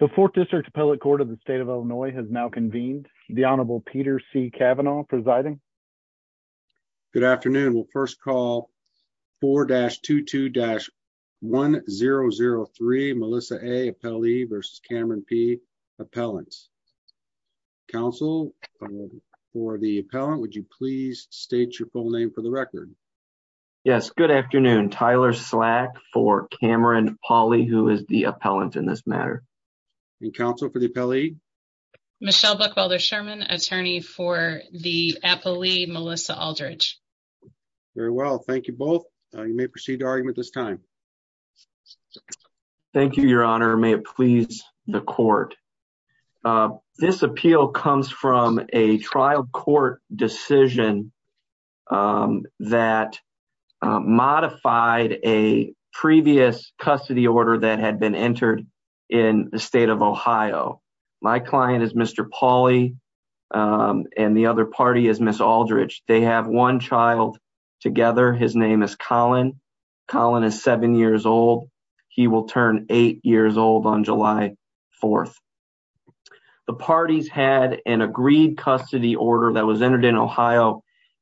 The Fourth District Appellate Court of the State of Illinois has now convened. The Honorable Peter C. Cavanaugh presiding. Good afternoon. We'll first call 4-22-1003, Melissa A. Appellee v. Cameron P. Appellant. Counsel, for the appellant, would you please state your full name for the record? Yes, good afternoon. Tyler Slack for Cameron Pauley, who is the appellant in this matter. And counsel, for the appellee? Michelle Buckwilder Sherman, attorney for the appellee, Melissa Aldridge. Very well. Thank you both. You may proceed to argument this time. Thank you, Your Honor. May it please the court. This appeal comes from a trial court decision um that modified a previous custody order that had been entered in the state of Ohio. My client is Mr. Pauley and the other party is Ms. Aldridge. They have one child together. His name is Colin. Colin is seven years old. He will turn eight years old on July 4th. The parties had an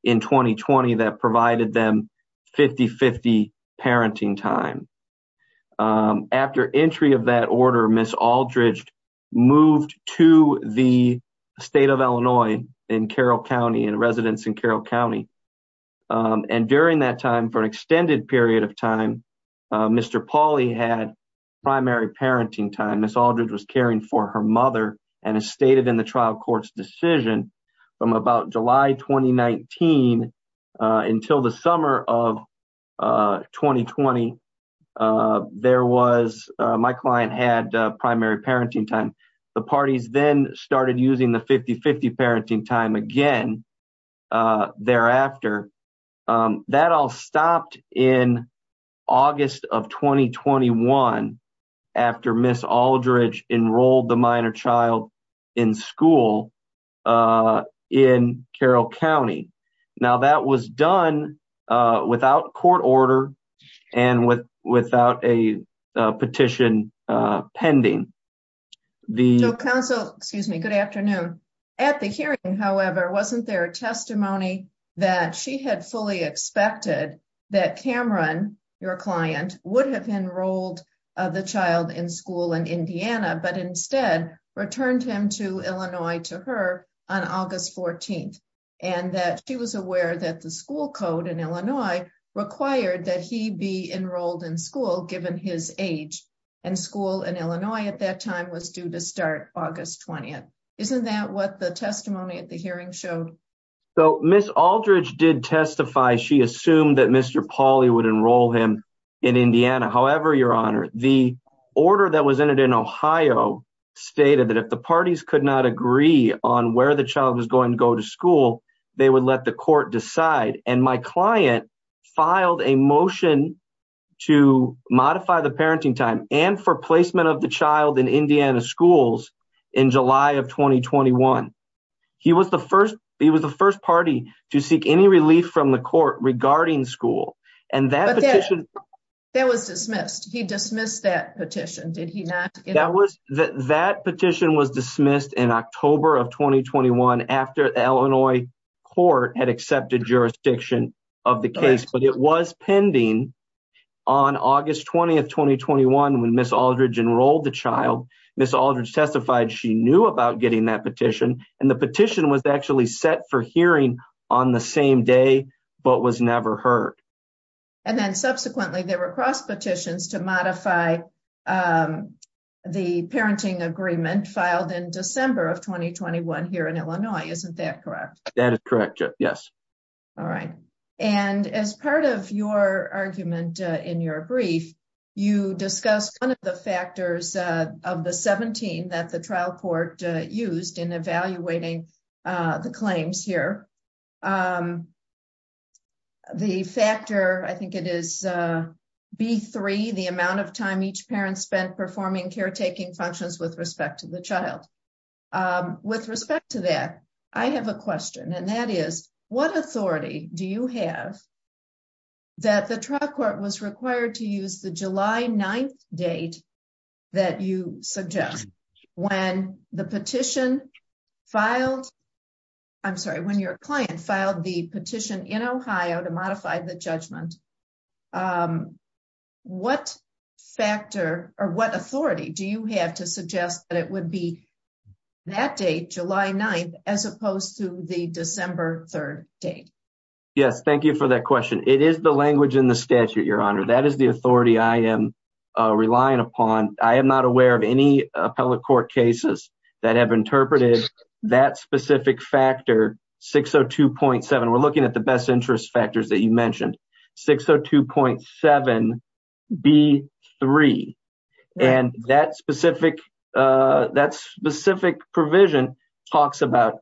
in 2020 that provided them 50-50 parenting time. After entry of that order, Ms. Aldridge moved to the state of Illinois in Carroll County, in residence in Carroll County. And during that time, for an extended period of time, Mr. Pauley had primary parenting time. Ms. Aldridge was caring for her mother and as stated in the trial court's decision, from about July 2019 until the summer of 2020, my client had primary parenting time. The parties then started using the 50-50 parenting time again thereafter. That all stopped in August of 2021 after Ms. Aldridge enrolled the minor child in school in Carroll County. Now that was done without court order and without a petition pending. So counsel, excuse me, good afternoon. At the hearing, however, wasn't there a testimony that she had fully expected that Cameron, your client, would have enrolled the child in school in Indiana but instead returned him to Illinois to her on August 14th and that she was aware that the school code in Illinois required that he be enrolled in school given his age and school in Illinois at that time was due to start August 20th. Isn't that what the testimony at the hearing showed? So Ms. Aldridge did testify. She assumed that Mr. Pauley would enroll him in Indiana. However, your honor, the order that was entered in Ohio stated that if the parties could not agree on where the child was going to go to school, they would let the court decide and my client filed a motion to modify the parenting time and for placement of the child in Indiana schools in July of 2021. He was the first party to seek any relief from the court regarding school and that petition. That was dismissed. He dismissed that petition, did he not? That petition was dismissed in October of 2021 after Illinois court had accepted jurisdiction of the case but it was pending on August 20th, 2021, when Ms. Aldridge enrolled the child. Ms. Aldridge testified she knew about getting that petition and the petition was actually set for hearing on the same day but was never heard. And then subsequently there were cross petitions to modify the parenting agreement filed in December of 2021 here in Illinois. Isn't that correct? That is correct, yes. All right and as part of your argument in your brief, you discussed one of the factors of the 17 that the trial court used in evaluating the claims here. The factor, I think it is B3, the amount of time each parent spent performing caretaking functions with respect to the child. With respect to that, I have a question and that is what authority do you have that the trial court was required to use the July 9th date that you suggest? When the petition filed, I'm sorry, when your client filed the petition in Ohio to modify the judgment, what factor or what authority do you have to suggest that it would be that date, July 9th, as opposed to the December 3rd date? Yes, thank you for that question. It is language in the statute, your honor. That is the authority I am relying upon. I am not aware of any appellate court cases that have interpreted that specific factor 602.7. We're looking at the best interest factors that you mentioned. 602.7 B3 and that specific provision talks about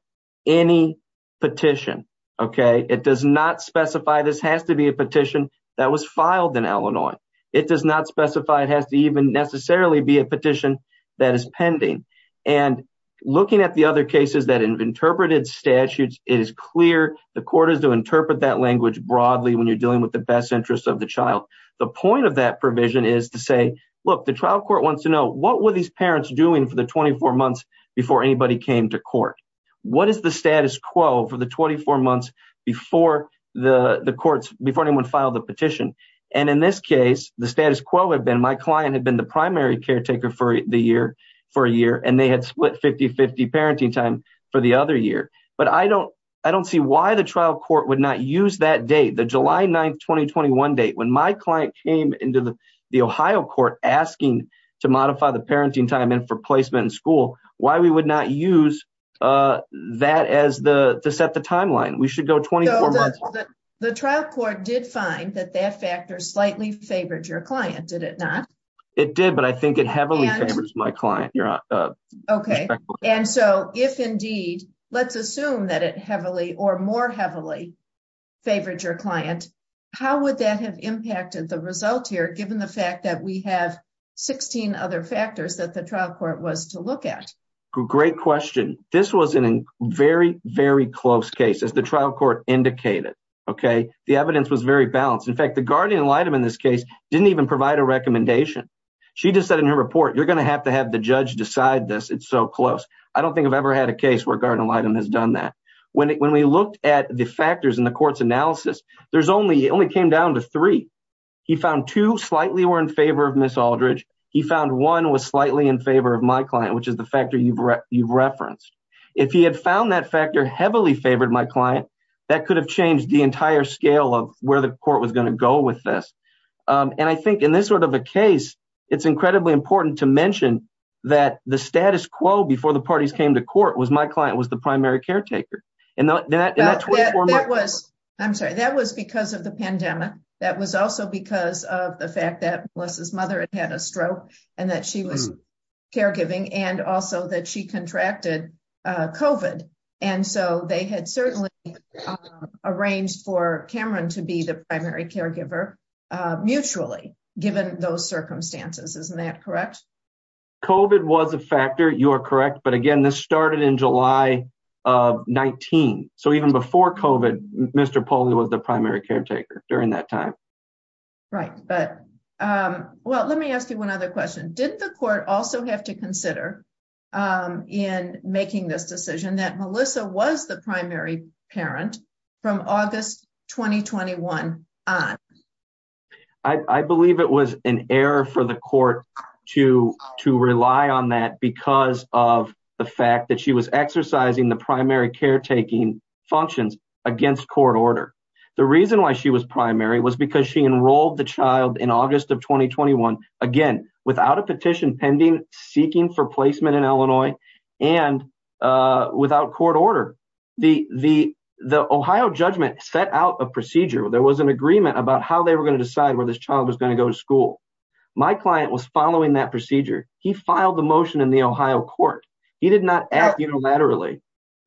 any this has to be a petition that was filed in Illinois. It does not specify it has to even necessarily be a petition that is pending. And looking at the other cases that have interpreted statutes, it is clear the court is to interpret that language broadly when you're dealing with the best interest of the child. The point of that provision is to say, look, the trial court wants to know what were these parents doing for the 24 months before anybody came to court? What is the courts before anyone filed the petition? And in this case, the status quo had been my client had been the primary caretaker for the year for a year and they had split 50-50 parenting time for the other year. But I don't see why the trial court would not use that date, the July 9th, 2021 date when my client came into the Ohio court asking to modify the parenting time in for placement in why we would not use that as the set the timeline. We should go 24 months. The trial court did find that that factor slightly favored your client, did it not? It did, but I think it heavily favors my client. Okay. And so if indeed, let's assume that it heavily or more heavily favored your client, how would that have impacted the result here, given the fact that we have 16 other factors that the trial court was to look at? Great question. This was in a very, very close case as the trial court indicated. Okay. The evidence was very balanced. In fact, the guardian in this case didn't even provide a recommendation. She just said in her report, you're going to have to have the judge decide this. It's so close. I don't think I've ever had a case where a guardian has done that. When we looked at the factors in the court's analysis, there's only, it only came down to three. He found two slightly were in favor of Ms. Aldridge. He found one was slightly in favor of my client, which is the factor you've referenced. If he had found that factor heavily favored my client, that could have changed the entire scale of where the court was going to go with this. And I think in this sort of a case, it's incredibly important to mention that the status quo before the parties came to court was my client was the primary caretaker. And that was, I'm sorry, that was because of the pandemic. That was also because of the fact that Melissa's mother had had a stroke and that she was caregiving and also that she contracted COVID. And so they had certainly arranged for Cameron to be the primary caregiver mutually given those circumstances. Isn't that correct? COVID was a factor. You are correct. But again, this started in July of 19. So even before COVID, Mr. Pauly was the primary caretaker during that time. Right. But well, let me ask you one other question. Didn't the court also have to consider in making this decision that Melissa was the primary parent from August, 2021 on? I believe it was an error for the court to rely on that of the fact that she was exercising the primary caretaking functions against court order. The reason why she was primary was because she enrolled the child in August of 2021. Again, without a petition pending, seeking for placement in Illinois and without court order, the Ohio judgment set out a procedure. There was an agreement about how they were going to decide where this child was going to go to school. My client was following that procedure. He filed a motion in the Ohio court. He did not act unilaterally.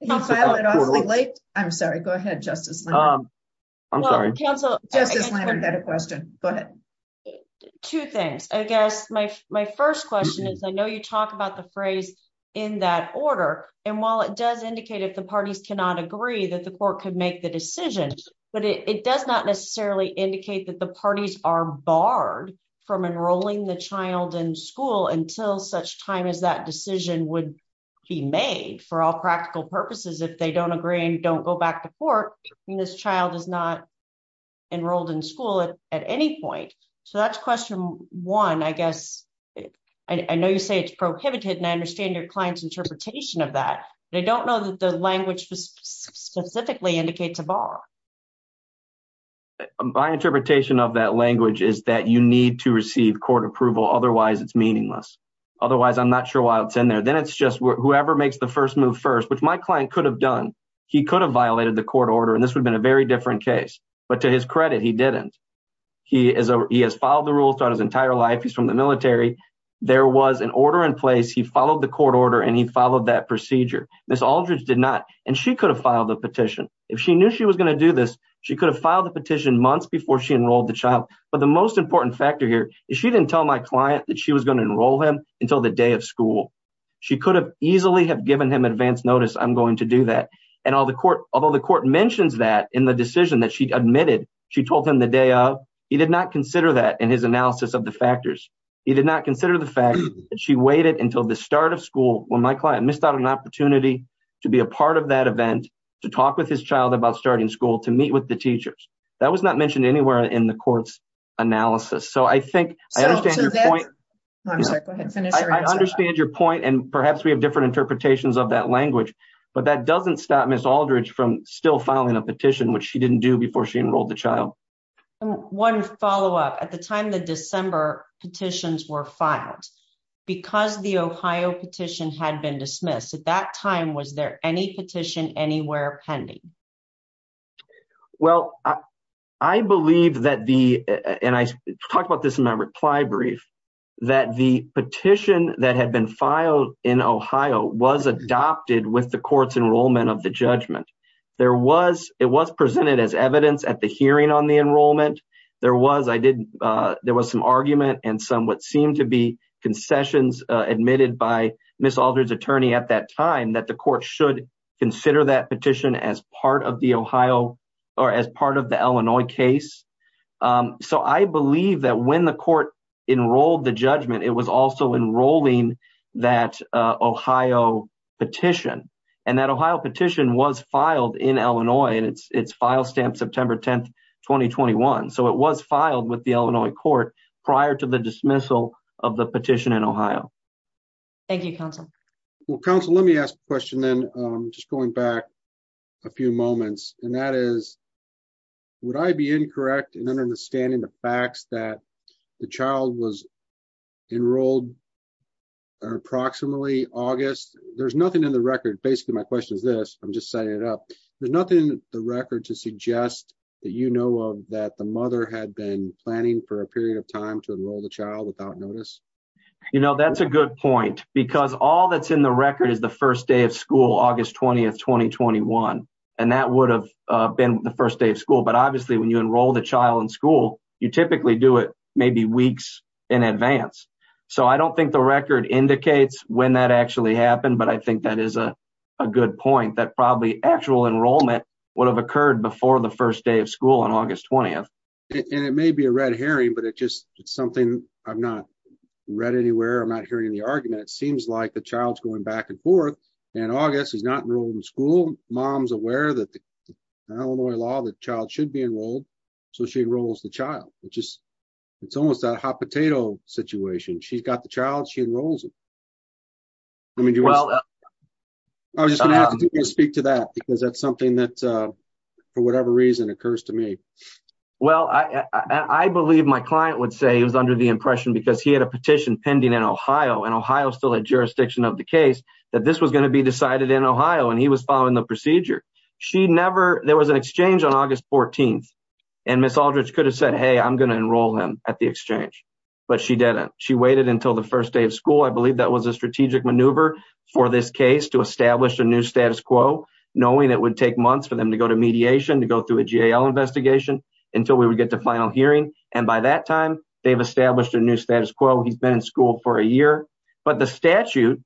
I'm sorry. Go ahead, Justice. I'm sorry. Justice Lambert had a question. Go ahead. Two things. I guess my first question is, I know you talk about the phrase in that order. And while it does indicate if the parties cannot agree that the court could make the decision, but it does not necessarily indicate that the that decision would be made for all practical purposes if they don't agree and don't go back to court and this child is not enrolled in school at any point. So that's question one, I guess. I know you say it's prohibited and I understand your client's interpretation of that, but I don't know that the language specifically indicates a bar. My interpretation of that language is that you need to receive court approval. Otherwise, it's meaningless. Otherwise, I'm not sure why it's in there. Then it's just whoever makes the first move first, which my client could have done. He could have violated the court order and this would have been a very different case. But to his credit, he didn't. He has followed the rules throughout his entire life. He's from the military. There was an order in place. He followed the court order and he followed that procedure. Ms. Aldridge did not. And she could have filed the petition. If she knew she was going to do this, she could have filed the petition months before she enrolled the child. But the most important factor here is she didn't tell my client that she was going to enroll him until the day of school. She could have easily have given him advance notice, I'm going to do that. And although the court mentions that in the decision that she admitted she told him the day of, he did not consider that in his analysis of the factors. He did not consider the fact that she waited until the start of school when my client missed out on an opportunity to be a part of that event, to talk with his child about starting school, to meet with the teachers. That was not mentioned anywhere in the court's analysis. So I think I understand your point. I understand your point and perhaps we have different interpretations of that language. But that doesn't stop Ms. Aldridge from still filing a petition, which she didn't do before she enrolled the child. One follow-up. At the time the December petitions were filed, because the Ohio petition had been dismissed, at that time was there any petition anywhere pending? Well, I believe that the, and I talked about this in my reply brief, that the petition that had been filed in Ohio was adopted with the court's enrollment of the judgment. There was, it was presented as evidence at the hearing on the enrollment. There was, I did, there was some argument and some what seemed to be concessions admitted by Ms. Aldridge's attorney at that time that the court should consider that petition as part of the Ohio or as part of the Illinois case. So I believe that when the court enrolled the judgment, it was also enrolling that Ohio petition. And that Ohio petition was filed in Illinois and it's file stamped September 10, 2021. So it was filed with the Illinois court prior to the dismissal of the petition in Ohio. Thank you, counsel. Well, counsel, let me ask a question then, just going back a few moments, and that is, would I be incorrect in understanding the facts that the child was enrolled approximately August? There's nothing in the record, basically my question is this, I'm just setting it up. There's nothing in the record to suggest that you know of that the mother had been planning for a period of time to enroll the child without notice. You know, that's a good point because all that's in the record is the first day of school, August 20th, 2021. And that would have been the first day of school. But obviously when you enroll the child in school, you typically do it maybe weeks in advance. So I don't think the record indicates when that actually happened, but I think that is a good point that probably actual enrollment would have occurred before the hearing, but it's just something I've not read anywhere. I'm not hearing the argument. It seems like the child's going back and forth, and August is not enrolled in school. Mom's aware that the Illinois law that child should be enrolled, so she enrolls the child, which is, it's almost that hot potato situation. She's got the child, she enrolls him. I was just going to have to speak to that because that's something that for whatever reason occurs to me. Well, I believe my client would say he was under the impression because he had a petition pending in Ohio, and Ohio still had jurisdiction of the case, that this was going to be decided in Ohio, and he was following the procedure. She never, there was an exchange on August 14th, and Ms. Aldridge could have said, hey, I'm going to enroll him at the exchange, but she didn't. She waited until the first day of knowing it would take months for them to go to mediation, to go through a GAL investigation until we would get to final hearing, and by that time, they've established a new status quo. He's been in school for a year, but the statute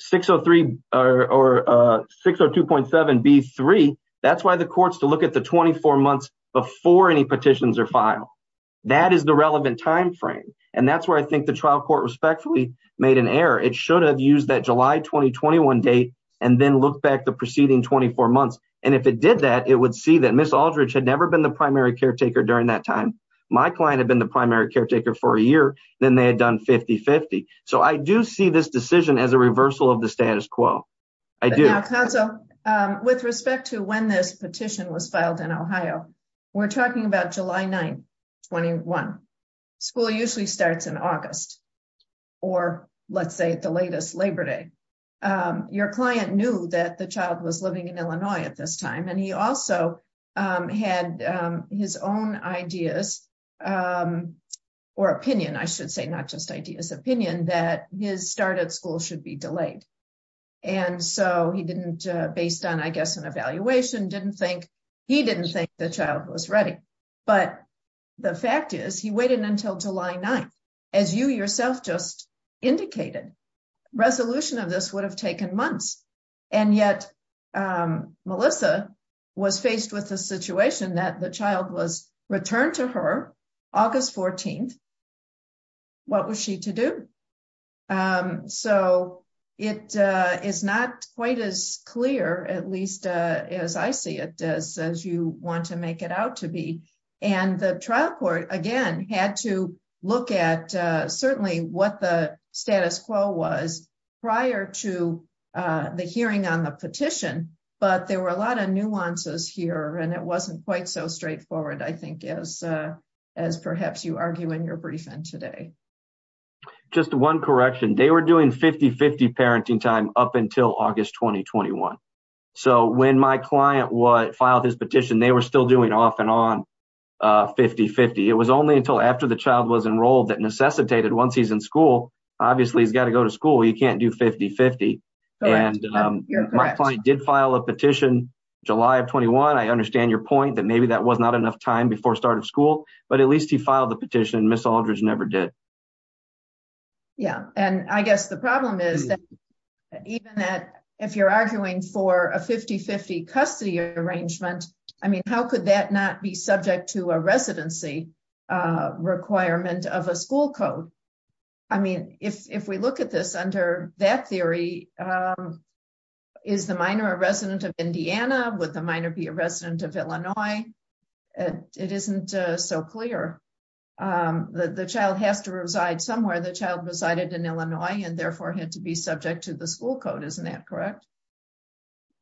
603 or 602.7b3, that's why the court's to look at the 24 months before any petitions are filed. That is the relevant time frame, and that's where I think the trial court respectfully made an error. It should have used that July 2021 date and then looked back the preceding 24 months, and if it did that, it would see that Ms. Aldridge had never been the primary caretaker during that time. My client had been the primary caretaker for a year, then they had done 50-50, so I do see this decision as a reversal of the status quo. I do. Now, counsel, with respect to when this petition was filed in Ohio, we're talking about July 9th, 21. School usually starts in August, or let's say the latest Labor Day. Your client knew that the child was living in Illinois at this time, and he also had his own ideas, or opinion, I should say, not just ideas, opinion, that his start at school should be delayed, and so he didn't, based on, I guess, an evaluation, didn't think, he didn't think the child was ready, but the fact is he waited until July 9th, as you yourself just indicated. Resolution of this would have taken months, and yet Melissa was faced with the situation that the child was returned to her August 14th. What was she to do? So it is not quite as clear, at least as I see it, as you want to make it out to be, and the trial court, again, had to look at certainly what the status quo was prior to the hearing on the petition, but there were a lot of nuances here, and it wasn't quite so straightforward, I think, as perhaps you argue in your briefing today. Just one correction. They were doing 50-50 parenting time up until August 2021, so when my client filed his petition, they were still doing off and on 50-50. It was only until after the child was enrolled that necessitated, once he's in school, obviously he's got to go to school, you can't do 50-50, and my client did file a petition July of 21. I understand your point that maybe that was not enough time before start of school, but at least he filed the petition. Ms. Aldridge never did. Yeah, and I guess the problem is that even if you're arguing for a 50-50 custody arrangement, I mean, how could that not be subject to a residency requirement of a school code? I mean, if we look at this under that theory, is the minor a resident of Indiana? Would the minor be a resident of Illinois? It isn't so clear. The child has to reside somewhere. The child resided in Illinois and therefore had to be subject to the school code. Isn't that correct?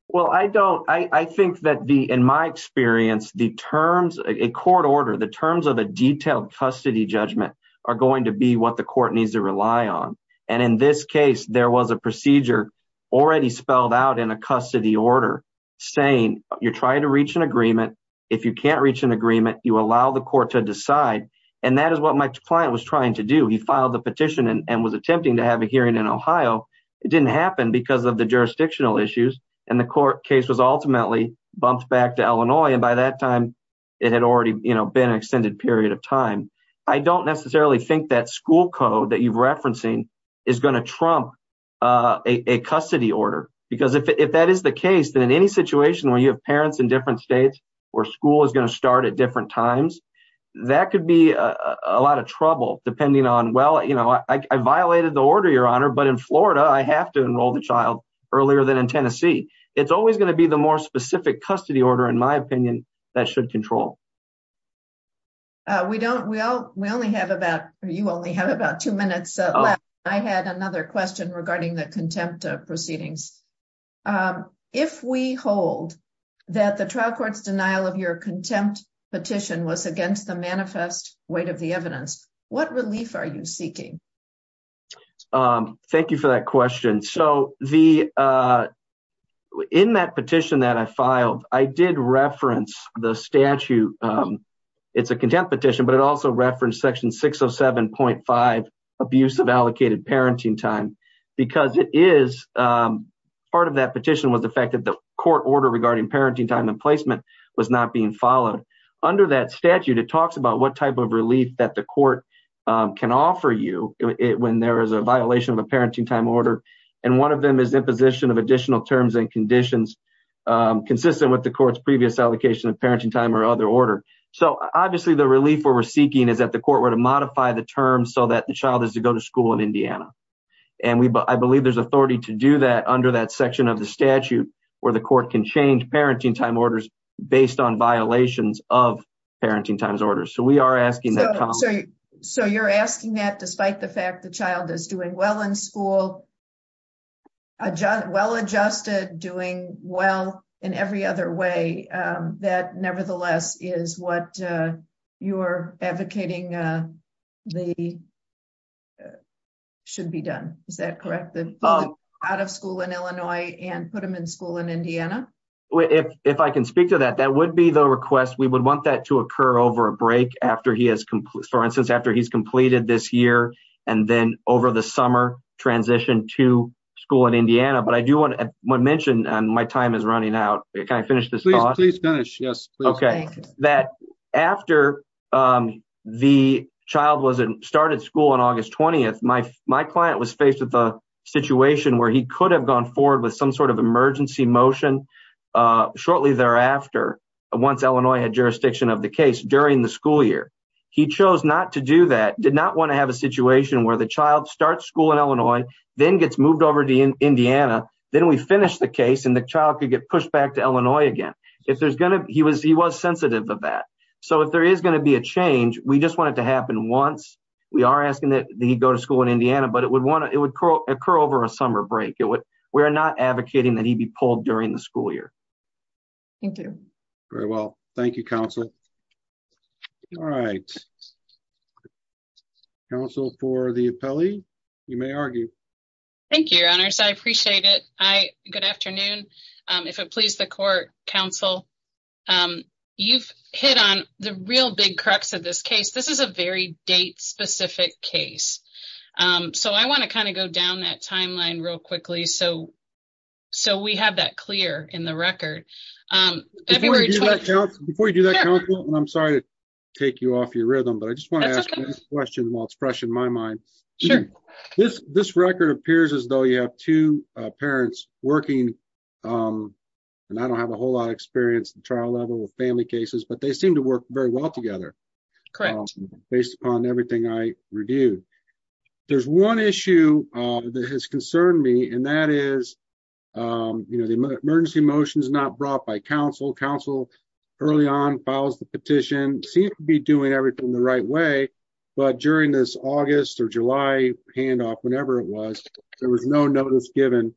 Well, I don't. I think that in my experience, a court order, the terms of a detailed custody judgment are going to be what the court needs to rely on, and in this case, there was a procedure already spelled out in a custody order saying you're trying to reach an agreement. If you can't reach an agreement, you allow the court to decide, and that is what my client was trying to do. He filed the petition and was attempting to have a hearing in Ohio. It didn't happen because of the jurisdictional issues, and the court case was ultimately bumped back to Illinois, and by that time, it had already been an extended period of time. I don't necessarily think that school code that you're referencing is going to trump a custody order, because if that is the case, then in any situation where you have parents in different states, where school is going to start at different times, that could be a lot of trouble depending on, well, you know, I violated the order, Your Honor, but in Florida, I have to enroll the child earlier than in Tennessee. It's always going to be the more specific custody order, in my opinion, that should control. We don't. We only have about, you only have about two minutes left. I had another question regarding the contempt proceedings. If we hold that the trial court's denial of your contempt petition was against the manifest weight of the evidence, what relief are you seeking? Thank you for that question. So the, in that petition that I filed, I did reference the statute. It's a contempt petition, but it also referenced section 607.5, abuse of allocated parenting time, because it is, part of that petition was the fact that the court order regarding parenting time and placement was not being followed. Under that statute, it talks about what type of relief that the court can offer you when there is a violation of a parenting time order, and one of them is imposition of additional terms and conditions consistent with the court's previous allocation parenting time or other order. So obviously the relief we're seeking is that the court were to modify the terms so that the child is to go to school in Indiana. And we, I believe there's authority to do that under that section of the statute where the court can change parenting time orders based on violations of parenting times orders. So we are asking that. So you're asking that despite the fact the child is doing well in school, well adjusted, doing well in every other way, that nevertheless is what you're advocating the, should be done, is that correct? Out of school in Illinois and put them in school in Indiana? If I can speak to that, that would be the request. We would want that to occur over a break after he has, for instance, after he's completed this year and then over the summer transition to school in Indiana. But I do want to mention, and my time is running out, can I finish this thought? Please finish, yes. Okay, that after the child started school on August 20th, my client was faced with a situation where he could have gone forward with some sort of emergency motion shortly thereafter, once Illinois had jurisdiction of the case during the school year. He chose not to do that, did not want to have a the case and the child could get pushed back to Illinois again. He was sensitive of that. So if there is going to be a change, we just want it to happen once. We are asking that he go to school in Indiana, but it would occur over a summer break. We are not advocating that he'd be pulled during the school year. Thank you. Very well. Thank you, counsel. All right. All right. Counsel for the appellee, you may argue. Thank you, your honors. I appreciate it. Good afternoon. If it please the court, counsel, you've hit on the real big crux of this case. This is a very date-specific case. So I want to kind of go down that timeline real quickly, so we have that clear in the record. Before you do that, counsel, and I'm sorry to take you off your rhythm, but I just want to ask a question while it's fresh in my mind. This record appears as though you have two parents working, and I don't have a whole lot of experience at the trial level with family cases, but they seem to work very well together. Correct. Based upon everything I reviewed. There's one issue that has concerned me, and that is, you know, the emergency motion is not brought by counsel. Counsel early on files the petition, seems to be doing everything the right way, but during this August or July handoff, whenever it was, there was no notice given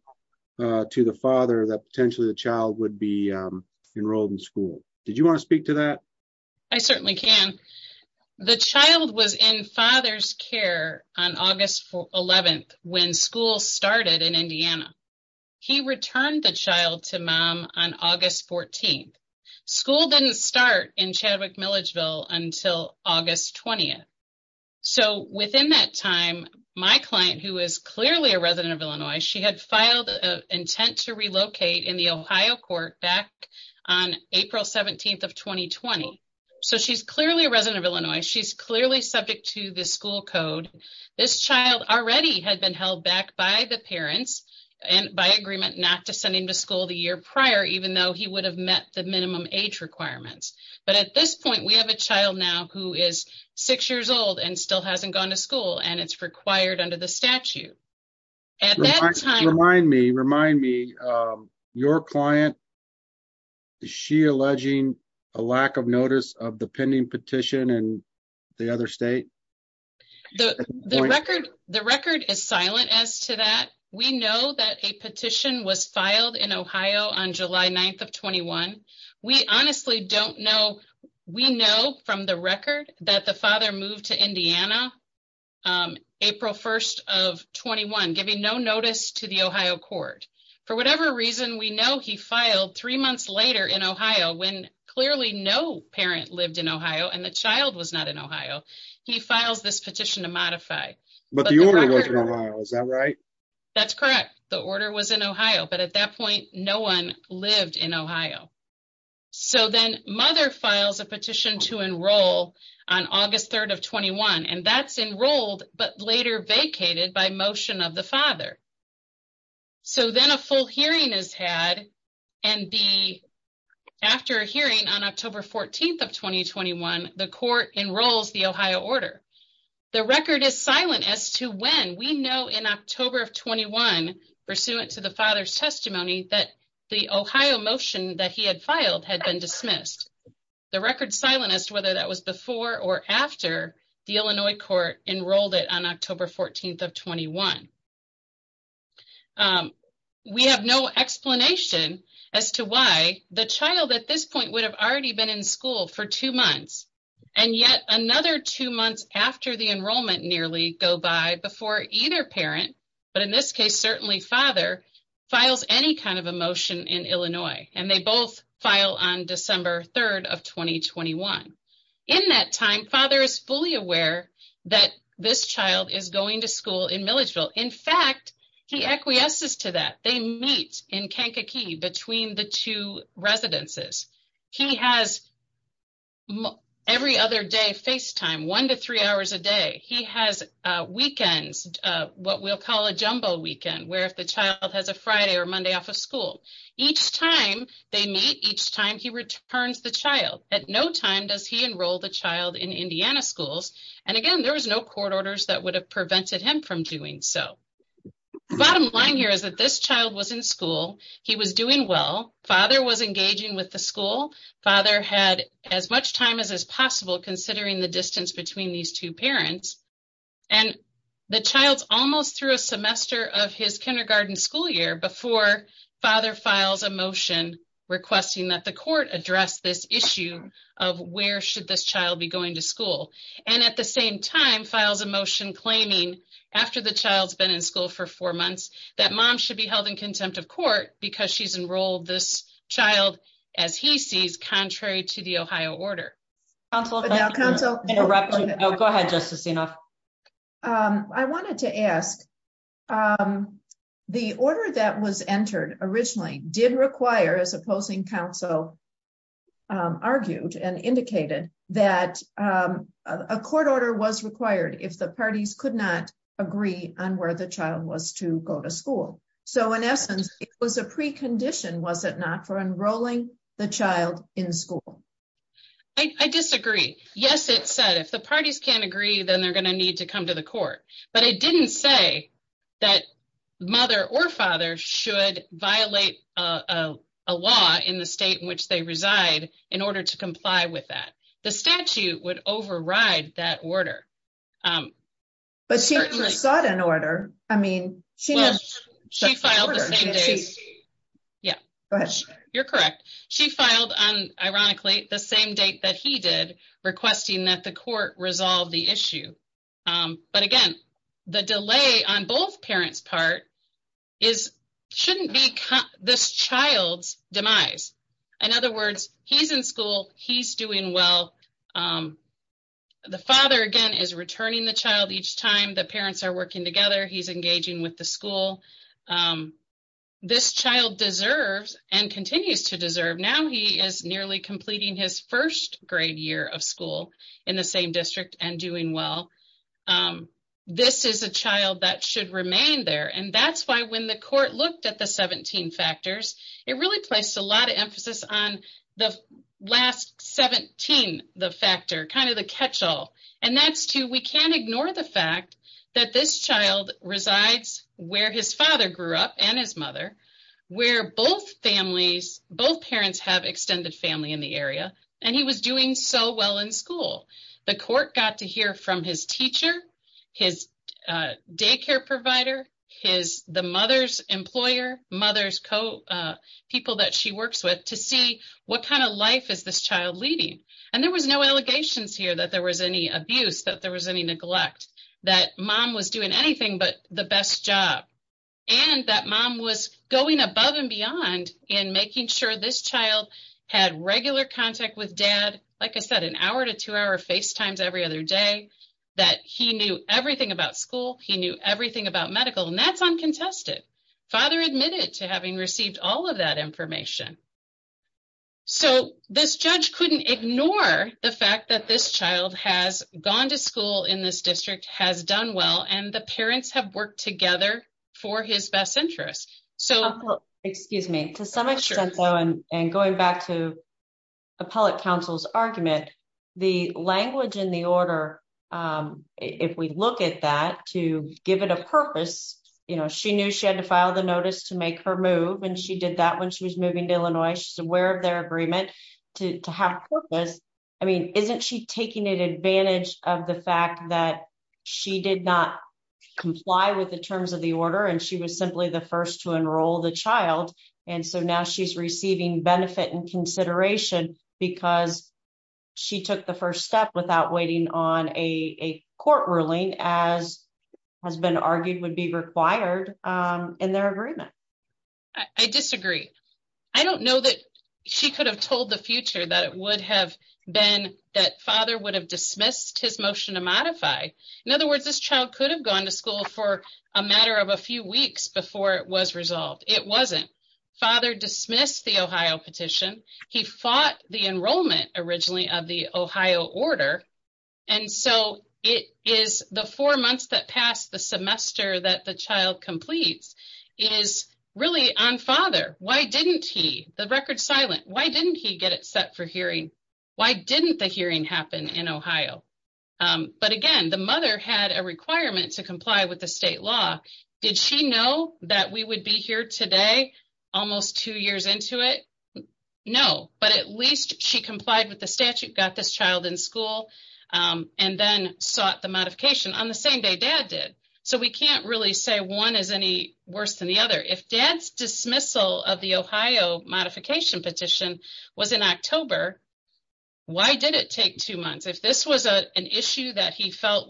to the father that potentially the child would be enrolled in school. Did you want to speak to that? I certainly can. The child was in father's care on August 11th when school started in Indiana. He returned the child to mom on August 14th. School didn't start in Chadwick-Milledgeville until August 20th, so within that time, my client, who is clearly a resident of Illinois, she had filed an intent to relocate in the Ohio court back on April 17th of 2020, so she's clearly a resident of Illinois. She's clearly subject to the school code. This child already had been held back by the parents and by agreement not to school the year prior, even though he would have met the minimum age requirements, but at this point, we have a child now who is six years old and still hasn't gone to school, and it's required under the statute. At that time, remind me, your client, is she alleging a lack of notice of the pending petition in the other state? The record is silent as to that. We know that a petition was in Ohio on July 9th of 2021. We honestly don't know. We know from the record that the father moved to Indiana April 1st of 2021, giving no notice to the Ohio court. For whatever reason, we know he filed three months later in Ohio when clearly no parent lived in Ohio and the child was not in Ohio. He files this petition to modify. But the order was in Ohio, is that right? That's correct. The order was in Ohio, but at that point, no one lived in Ohio. So then, mother files a petition to enroll on August 3rd of 2021, and that's enrolled but later vacated by motion of the father. So then, a full hearing is had and after a hearing on October 14th of 2021, the court enrolls the Ohio order. The record is silent as to when. We know in October of 2021, pursuant to the father's testimony, that the Ohio motion that he had filed had been dismissed. The record is silent as to whether that was before or after the Illinois court enrolled it on October 14th of 2021. We have no explanation as to why the child at this point would have already been in school for two months, and yet another two months after the enrollment nearly go by before either parent, but in this case, certainly father, files any kind of a motion in Illinois, and they both file on December 3rd of 2021. In that time, father is fully aware that this child is going to school in Milledgeville. In fact, he acquiesces to that. They meet in Kankakee between the two residences. He has every other day FaceTime, one to three hours a day. He has weekends, what we'll call a jumbo weekend, where if the child has a Friday or Monday off of school. Each time they meet, each time he returns the child. At no time does he enroll the child in Indiana schools, and again, there was no court orders that would have prevented him from doing so. Bottom line here is that this father had as much time as possible considering the distance between these two parents, and the child's almost through a semester of his kindergarten school year before father files a motion requesting that the court address this issue of where should this child be going to school, and at the same time, files a motion claiming after the child's been in school for four months that mom should be held in contempt of court because she's enrolled this child as he sees contrary to the Ohio order. Go ahead, Justice Enoff. I wanted to ask, the order that was entered originally did require, as opposing counsel argued and indicated, that a court order was required if the parties could not agree on where the child was to go to school. So in essence, it was a precondition, was it not, for enrolling the child in school. I disagree. Yes, it said if the parties can't agree, then they're going to need to come to the court, but it didn't say that mother or father should violate a law in the state in which they reside in order to comply with that. The statute would override that order. But she never sought an order. I mean, she filed the same days. Yeah, you're correct. She filed on, ironically, the same date that he did, requesting that the court resolve the issue. But again, the delay on both parents' part shouldn't be this child's He's in school. He's doing well. The father, again, is returning the child each time the parents are working together. He's engaging with the school. This child deserves and continues to deserve. Now he is nearly completing his first grade year of school in the same district and doing well. This is a child that should remain there. And that's why when the court looked at the 17 factors, it really placed a lot of emphasis on the last 17, the factor, kind of the catch-all. And that's to, we can't ignore the fact that this child resides where his father grew up and his mother, where both families, both parents have extended family in the area. And he was doing so well in school. The court got to hear from his teacher, his daycare provider, the mother's mother's co-people that she works with to see what kind of life is this child leading. And there was no allegations here that there was any abuse, that there was any neglect, that mom was doing anything but the best job. And that mom was going above and beyond in making sure this child had regular contact with dad. Like I said, an hour to two hour FaceTimes every other day that he knew everything about school. He knew everything about medical and that's uncontested. Father admitted to having received all of that information. So this judge couldn't ignore the fact that this child has gone to school in this district, has done well, and the parents have worked together for his best interest. So- Excuse me. To some extent though, and going back to appellate counsel's argument, the language in the order, if we look at that to give it a purpose, she knew she had to file the notice to make her move. And she did that when she was moving to Illinois. She's aware of their agreement to have purpose. I mean, isn't she taking advantage of the fact that she did not comply with the terms of the order and she was simply the first to enroll the child. And so now she's receiving benefit and consideration because she took the first step without waiting on a court ruling as has been argued would be required in their agreement. I disagree. I don't know that she could have told the future that it would have been that father would have dismissed his motion to modify. In other words, this child could have gone to school for a matter of a few weeks before it was resolved. It wasn't. Father dismissed the Ohio petition. He fought the enrollment originally of the Ohio order. And so it is the four months that passed the semester that the child completes is really on father. Why didn't he? The record's silent. Why didn't he get it set for hearing? Why didn't the hearing happen in Ohio? But again, the mother had a requirement to comply with the state law. Did she know that we would be here today almost two years into it? No, but at least she complied with the statute, got this child in school, and then sought the modification on the same day dad did. So we can't really say one is any worse than the other. If dad's dismissal of the Ohio modification petition was in October, why did it take two months? If this was an issue that he felt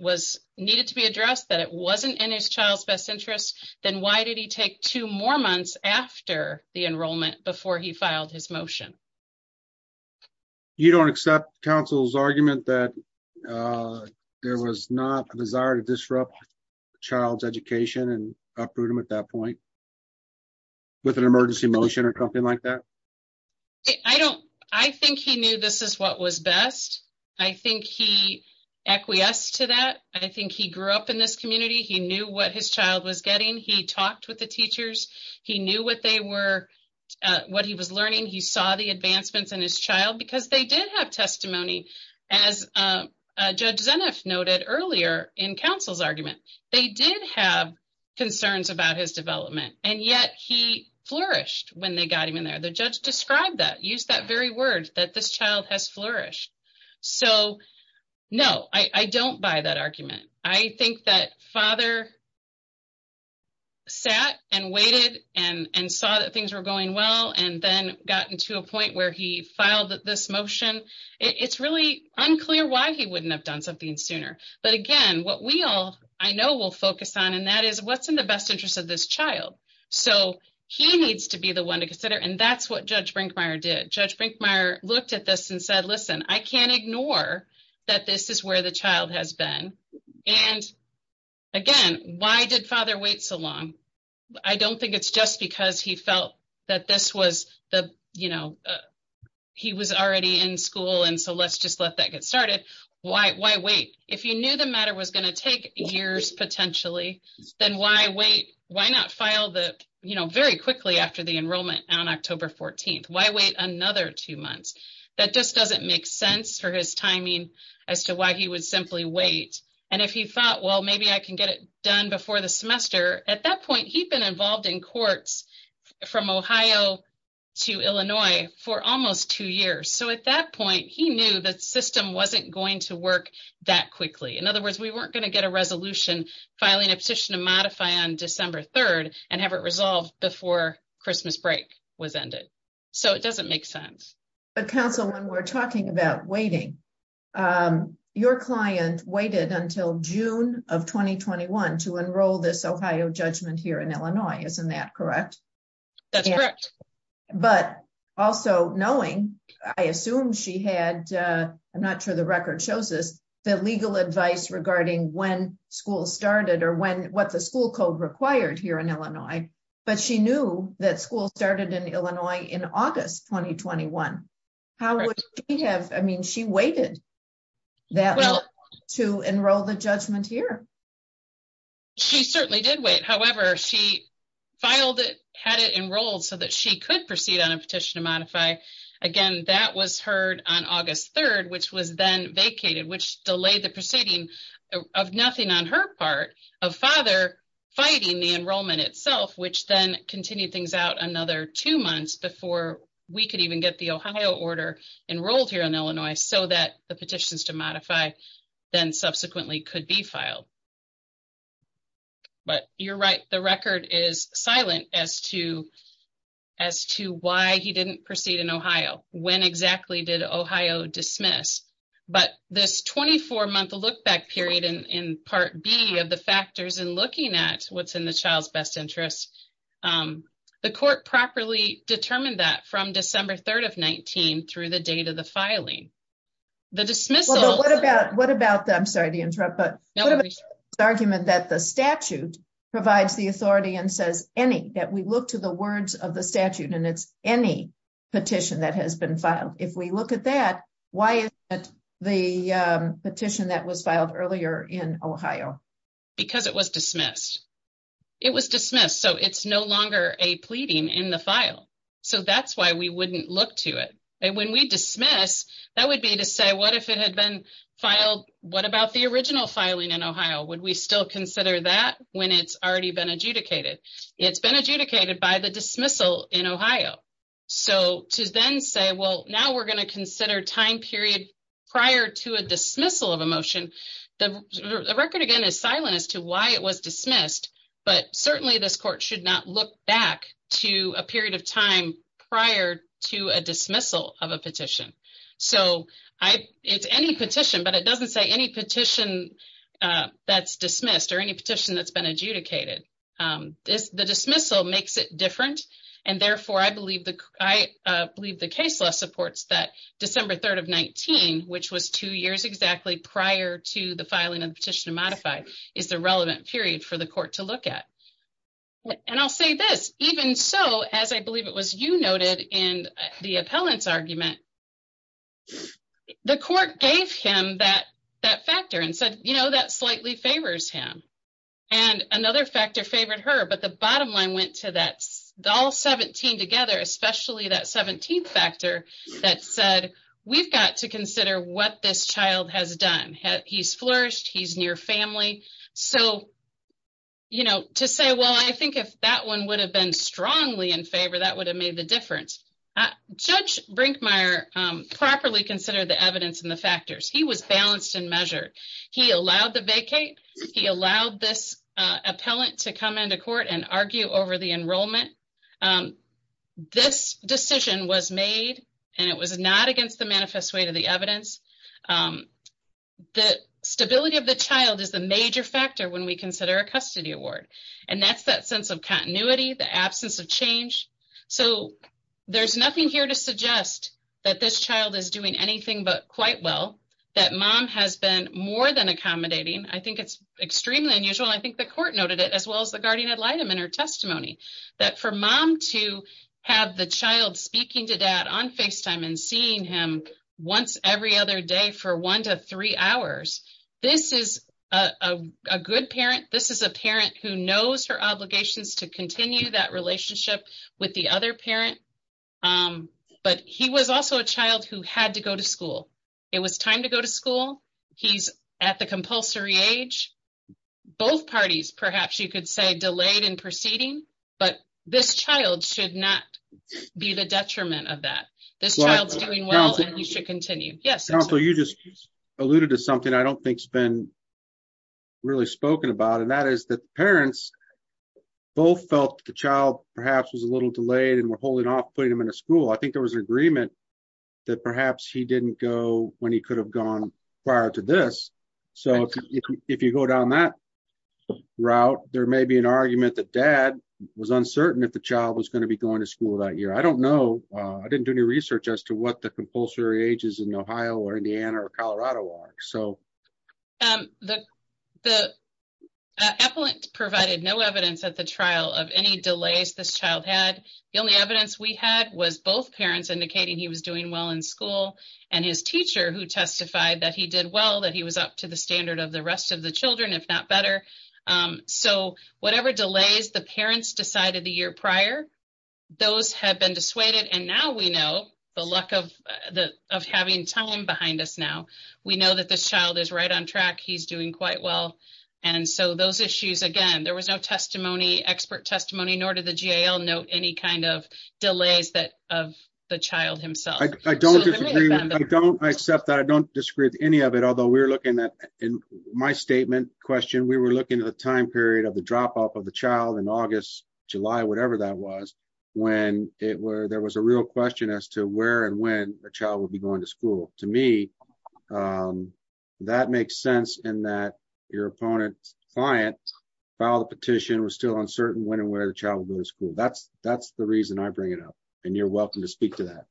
needed to be addressed, that it wasn't in his child's best interest, then why did he take two more months after the enrollment before he filed his motion? You don't accept counsel's argument that there was not a desire to disrupt child's education and uproot them at that point with an emergency motion or something like that? I think he knew this is what was best. I think he acquiesced to that. I think he grew up in this community. He knew what his child was getting. He talked with the teachers. He knew what he was learning. He saw the advancements in his child because they did have testimony, as Judge Zeneff noted earlier in counsel's argument. They did have concerns about his development, and yet he flourished when they got him in there. The I don't buy that argument. I think that father sat and waited and saw that things were going well and then got to a point where he filed this motion. It's really unclear why he wouldn't have done something sooner. But again, what I know we'll focus on is what's in the best interest of this child. He needs to be the one to consider, and that's what Judge Brinkmeyer did. Judge Brinkmeyer is the one to consider, and that's what this child has been. Again, why did father wait so long? I don't think it's just because he felt that he was already in school, and so let's just let that get started. Why wait? If you knew the matter was going to take years potentially, then why wait? Why not file very quickly after the enrollment on October 14th? Why wait another two months? That just doesn't make sense for his timing as to why he would simply wait. And if he thought, well, maybe I can get it done before the semester, at that point he'd been involved in courts from Ohio to Illinois for almost two years. So at that point, he knew the system wasn't going to work that quickly. In other words, we weren't going to get a resolution filing a petition to modify on December 3rd and have it resolved before Christmas break was ended. So it doesn't make sense. But counsel, when we're talking about waiting, your client waited until June of 2021 to enroll this Ohio judgment here in Illinois. Isn't that correct? That's correct. But also knowing, I assume she had, I'm not sure the record shows this, the legal advice regarding when school started or what the school code required here in Illinois, but she knew that school started in Illinois in August 2021. How would she have, I mean, she waited that long to enroll the judgment here. She certainly did wait. However, she filed it, had it enrolled so that she could proceed on a petition to modify. Again, that was heard on August 3rd, which was then vacated, which delayed the proceeding of nothing on her part of father fighting the enrollment itself, which then continued things out another two months before we could even get the Ohio order enrolled here in Illinois so that the petitions to modify then subsequently could be filed. But you're right. The record is silent as to why he didn't proceed in Ohio. When exactly did Ohio dismiss? But this 24 month look back period in part B of the factors and looking at what's in the child's best interest. The court properly determined that from December 3rd of 19 through the date of the filing. The dismissal. What about, I'm sorry to interrupt, but what about the argument that the statute provides the authority and says any, that we look to the words of the statute and it's any petition that has been filed. If we look at that, why isn't the petition that was filed earlier in Ohio? Because it was dismissed. It was dismissed, so it's no longer a pleading in the file. So that's why we wouldn't look to it. And when we dismiss, that would be to say, what if it had been filed? What about the original filing in Ohio? Would we still consider that when it's already been adjudicated? It's been adjudicated by the prior to a dismissal of emotion. The record again is silent as to why it was dismissed, but certainly this court should not look back to a period of time prior to a dismissal of a petition. So I it's any petition, but it doesn't say any petition that's dismissed or any petition that's been adjudicated. The dismissal makes it different, and therefore I believe the case supports that December 3rd of 19, which was two years exactly prior to the filing of the petition to modify, is the relevant period for the court to look at. And I'll say this, even so, as I believe it was you noted in the appellant's argument, the court gave him that factor and said, you know, that slightly favors him. And another factor favored her, but the bottom line went to that all 17 together, especially that 17th factor that said, we've got to consider what this child has done. He's flourished, he's near family. So, you know, to say, well, I think if that one would have been strongly in favor, that would have made the difference. Judge Brinkmeyer properly considered the evidence and the factors. He was balanced and measured. He allowed the vacate. He allowed this appellant to come into court and argue over the enrollment. This decision was made, and it was not against the manifest way to the evidence. The stability of the child is the major factor when we consider a custody award. And that's that sense of continuity, the absence of change. So there's nothing here to suggest that this child is doing anything but quite well, that mom has been more than accommodating. I think it's extremely unusual. I think the court noted it as well as the guardian ad litem in her testimony, that for mom to have the child speaking to dad on FaceTime and seeing him once every other day for one to three hours, this is a good parent. This is a parent who knows her obligations to a child who had to go to school. It was time to go to school. He's at the compulsory age. Both parties, perhaps you could say, delayed in proceeding, but this child should not be the detriment of that. This child's doing well, and he should continue. Yes. Counselor, you just alluded to something I don't think has been really spoken about, and that is that parents both felt the child perhaps was a little delayed and were holding off putting him in a school. I think there was an agreement that perhaps he didn't go when he could have gone prior to this. So if you go down that route, there may be an argument that dad was uncertain if the child was going to be going to school that year. I don't know. I didn't do any research as to what the compulsory ages in Ohio or Indiana or Colorado are. The appellant provided no evidence at the trial of any delays this child had. The only evidence we had was both parents indicating he was doing well in school and his teacher who testified that he did well, that he was up to the standard of the rest of the children, if not better. So whatever delays the parents decided the year prior, those have been dissuaded, and now we know the luck of having time behind us now. We know that this child is right on track. He's doing quite well, and so those issues, again, there was no testimony, expert testimony, nor did the GAL note any kind of delays of the child himself. I don't disagree. I don't accept that. I don't disagree with any of it, although we were looking at, in my statement question, we were looking at the time period of the drop-off of the child in August, July, whatever that was, when there was a real question as to where and when the child would be going to school. To me, that makes sense in that your opponent's client filed the petition, was still uncertain when and where the child would go to school. That's the reason I bring it up, and you're welcome to speak to that.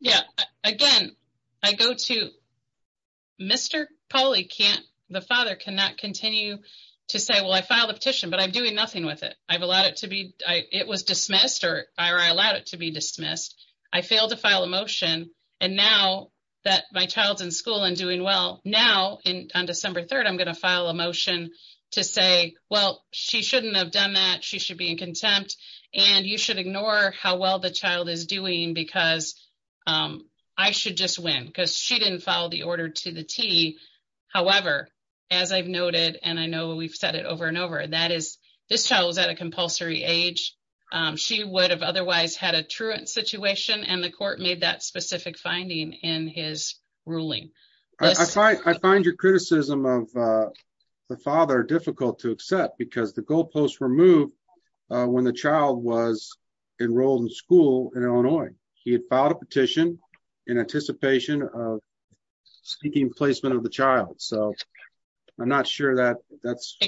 Yeah, again, I go to, Mr. Pauly, the father cannot continue to say, well, I filed a petition, but I'm doing nothing with it. I've allowed it to be, it was dismissed, or I allowed it to be dismissed. I failed to file a motion, and now that my child's in school and doing well, now on December 3rd, I'm going to file a motion to say, well, she shouldn't have done that. She should be in contempt, and you should ignore how well the child is doing, because I should just win, because she didn't follow the order to the T. However, as I've noted, and I know we've said it over and over, that is, this child was at a compulsory age. She would have otherwise had a truant situation, and the court made that specific finding in his ruling. I find your criticism of the father difficult to accept, because the goalposts were moved when the child was enrolled in school in Illinois. He had filed a petition in anticipation of seeking placement of the child, so I'm not sure that that's...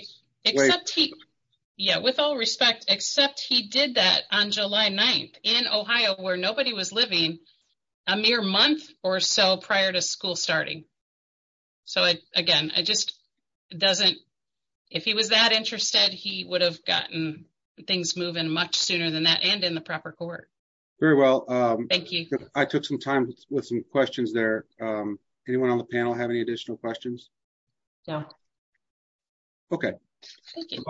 Yeah, with all respect, except he did that on July 9th in Ohio, where nobody was living, a mere month or so prior to school starting. So again, it just doesn't... If he was that interested, he would have gotten things moving much sooner than that, and in the proper court. Very well. Thank you. I took some time with some questions there. Anyone on the panel have any additional questions? No. Okay. Thank you.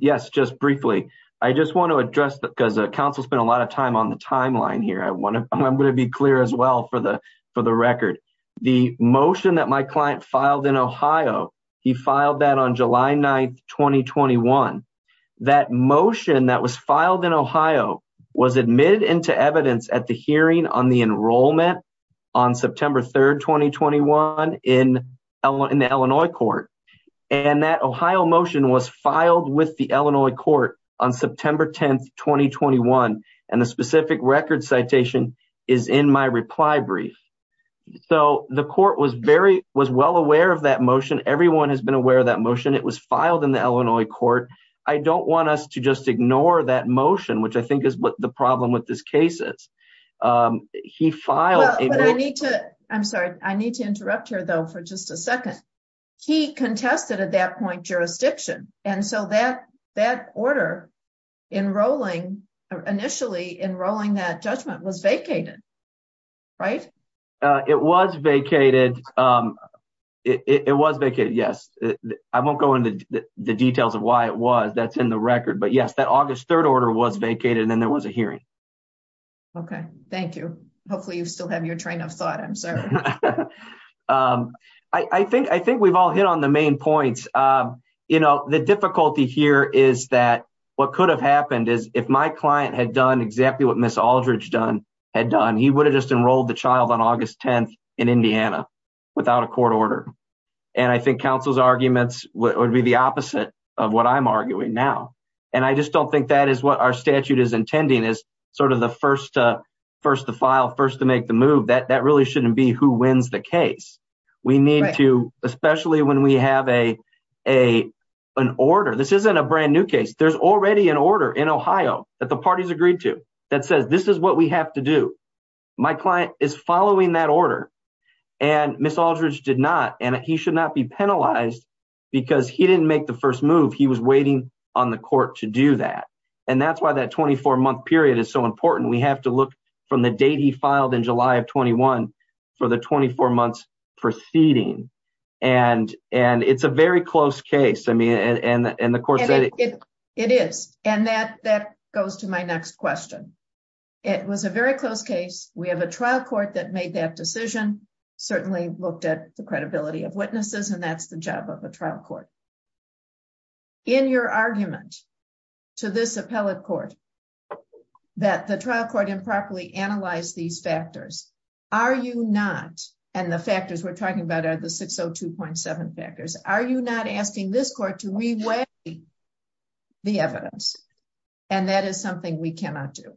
Yes, just briefly. I just want to address that, because the council spent a lot of time on the timeline here. I'm going to be clear as well for the record. The motion that my client filed in Ohio, he filed that on July 9th, 2021. That motion that was filed in Ohio was admitted into evidence at the hearing on the enrollment on September 3rd, 2021 in the Illinois court. And that Ohio motion was filed with the Illinois court on September 10th, 2021. And the specific record citation is in my reply brief. So the court was well aware of that motion. Everyone has been aware of that motion. It was filed in the Illinois court. I don't want us to just ignore that motion, which I think is what the problem with this case is. He filed- I'm sorry. I need to interrupt here though for just a second. He contested at that point jurisdiction. And so that order initially enrolling that judgment was vacated, right? It was vacated. It was vacated. Yes. I won't go into the details of why it was. That's in record. But yes, that August 3rd order was vacated and then there was a hearing. Okay. Thank you. Hopefully you still have your train of thought. I'm sorry. I think we've all hit on the main points. The difficulty here is that what could have happened is if my client had done exactly what Ms. Aldridge had done, he would have just enrolled the child on August 10th in Indiana without a court order. And I think counsel's arguments would be the opposite of what I'm arguing now. And I just don't think that is what our statute is intending is sort of the first to file, first to make the move. That really shouldn't be who wins the case. We need to, especially when we have an order. This isn't a brand new case. There's already an order in Ohio that the parties agreed to that says, this is what we have to do. My client is following that order and Ms. Aldridge did not. And he should not be penalized because he didn't make the first move. He was waiting on the court to do that. And that's why that 24 month period is so important. We have to look from the date he filed in July of 21 for the 24 months proceeding. And it's a very close case. I mean, and the court said- It is. And that goes to my next question. It was a very close case. We have a trial court that made that decision, certainly looked at the credibility of witnesses, and that's the job of a trial court. In your argument to this appellate court that the trial court improperly analyzed these factors, are you not? And the factors we're talking about are the 602.7 factors. Are you not asking this to reweigh the evidence? And that is something we cannot do.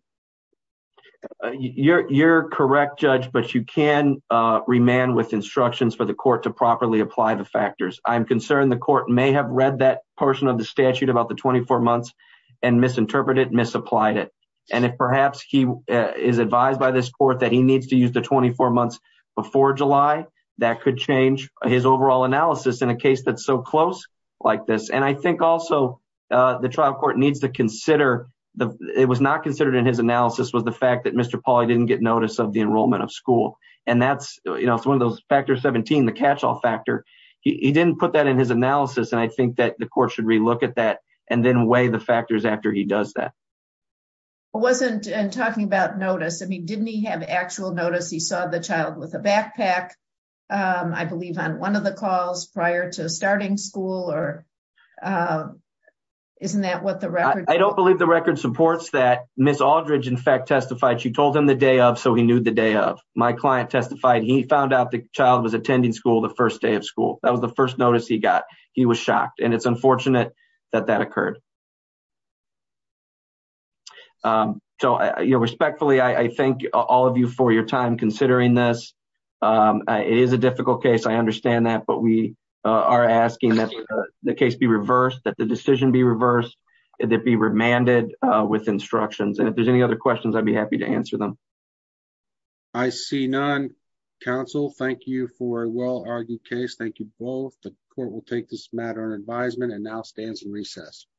You're correct, Judge, but you can remand with instructions for the court to properly apply the factors. I'm concerned the court may have read that portion of the statute about the 24 months and misinterpreted, misapplied it. And if perhaps he is advised by this court that he needs to use the 24 months before July, that could change his overall analysis in a case that's so close, like this. And I think also the trial court needs to consider, it was not considered in his analysis, was the fact that Mr. Pauly didn't get notice of the enrollment of school. And that's one of those factors, 17, the catch-all factor. He didn't put that in his analysis. And I think that the court should relook at that and then weigh the factors after he does that. I wasn't talking about notice. I mean, didn't he have actual notice? He saw the school or isn't that what the record? I don't believe the record supports that Ms. Aldridge in fact testified. She told him the day of, so he knew the day of. My client testified. He found out the child was attending school the first day of school. That was the first notice he got. He was shocked and it's unfortunate that that occurred. So respectfully, I thank all of you for your time considering this. It is a difficult case. I understand that, but we are asking that the case be reversed, that the decision be reversed, that be remanded with instructions. And if there's any other questions, I'd be happy to answer them. I see none. Counsel, thank you for a well-argued case. Thank you both. The court will take this matter on advisement and now stands in recess.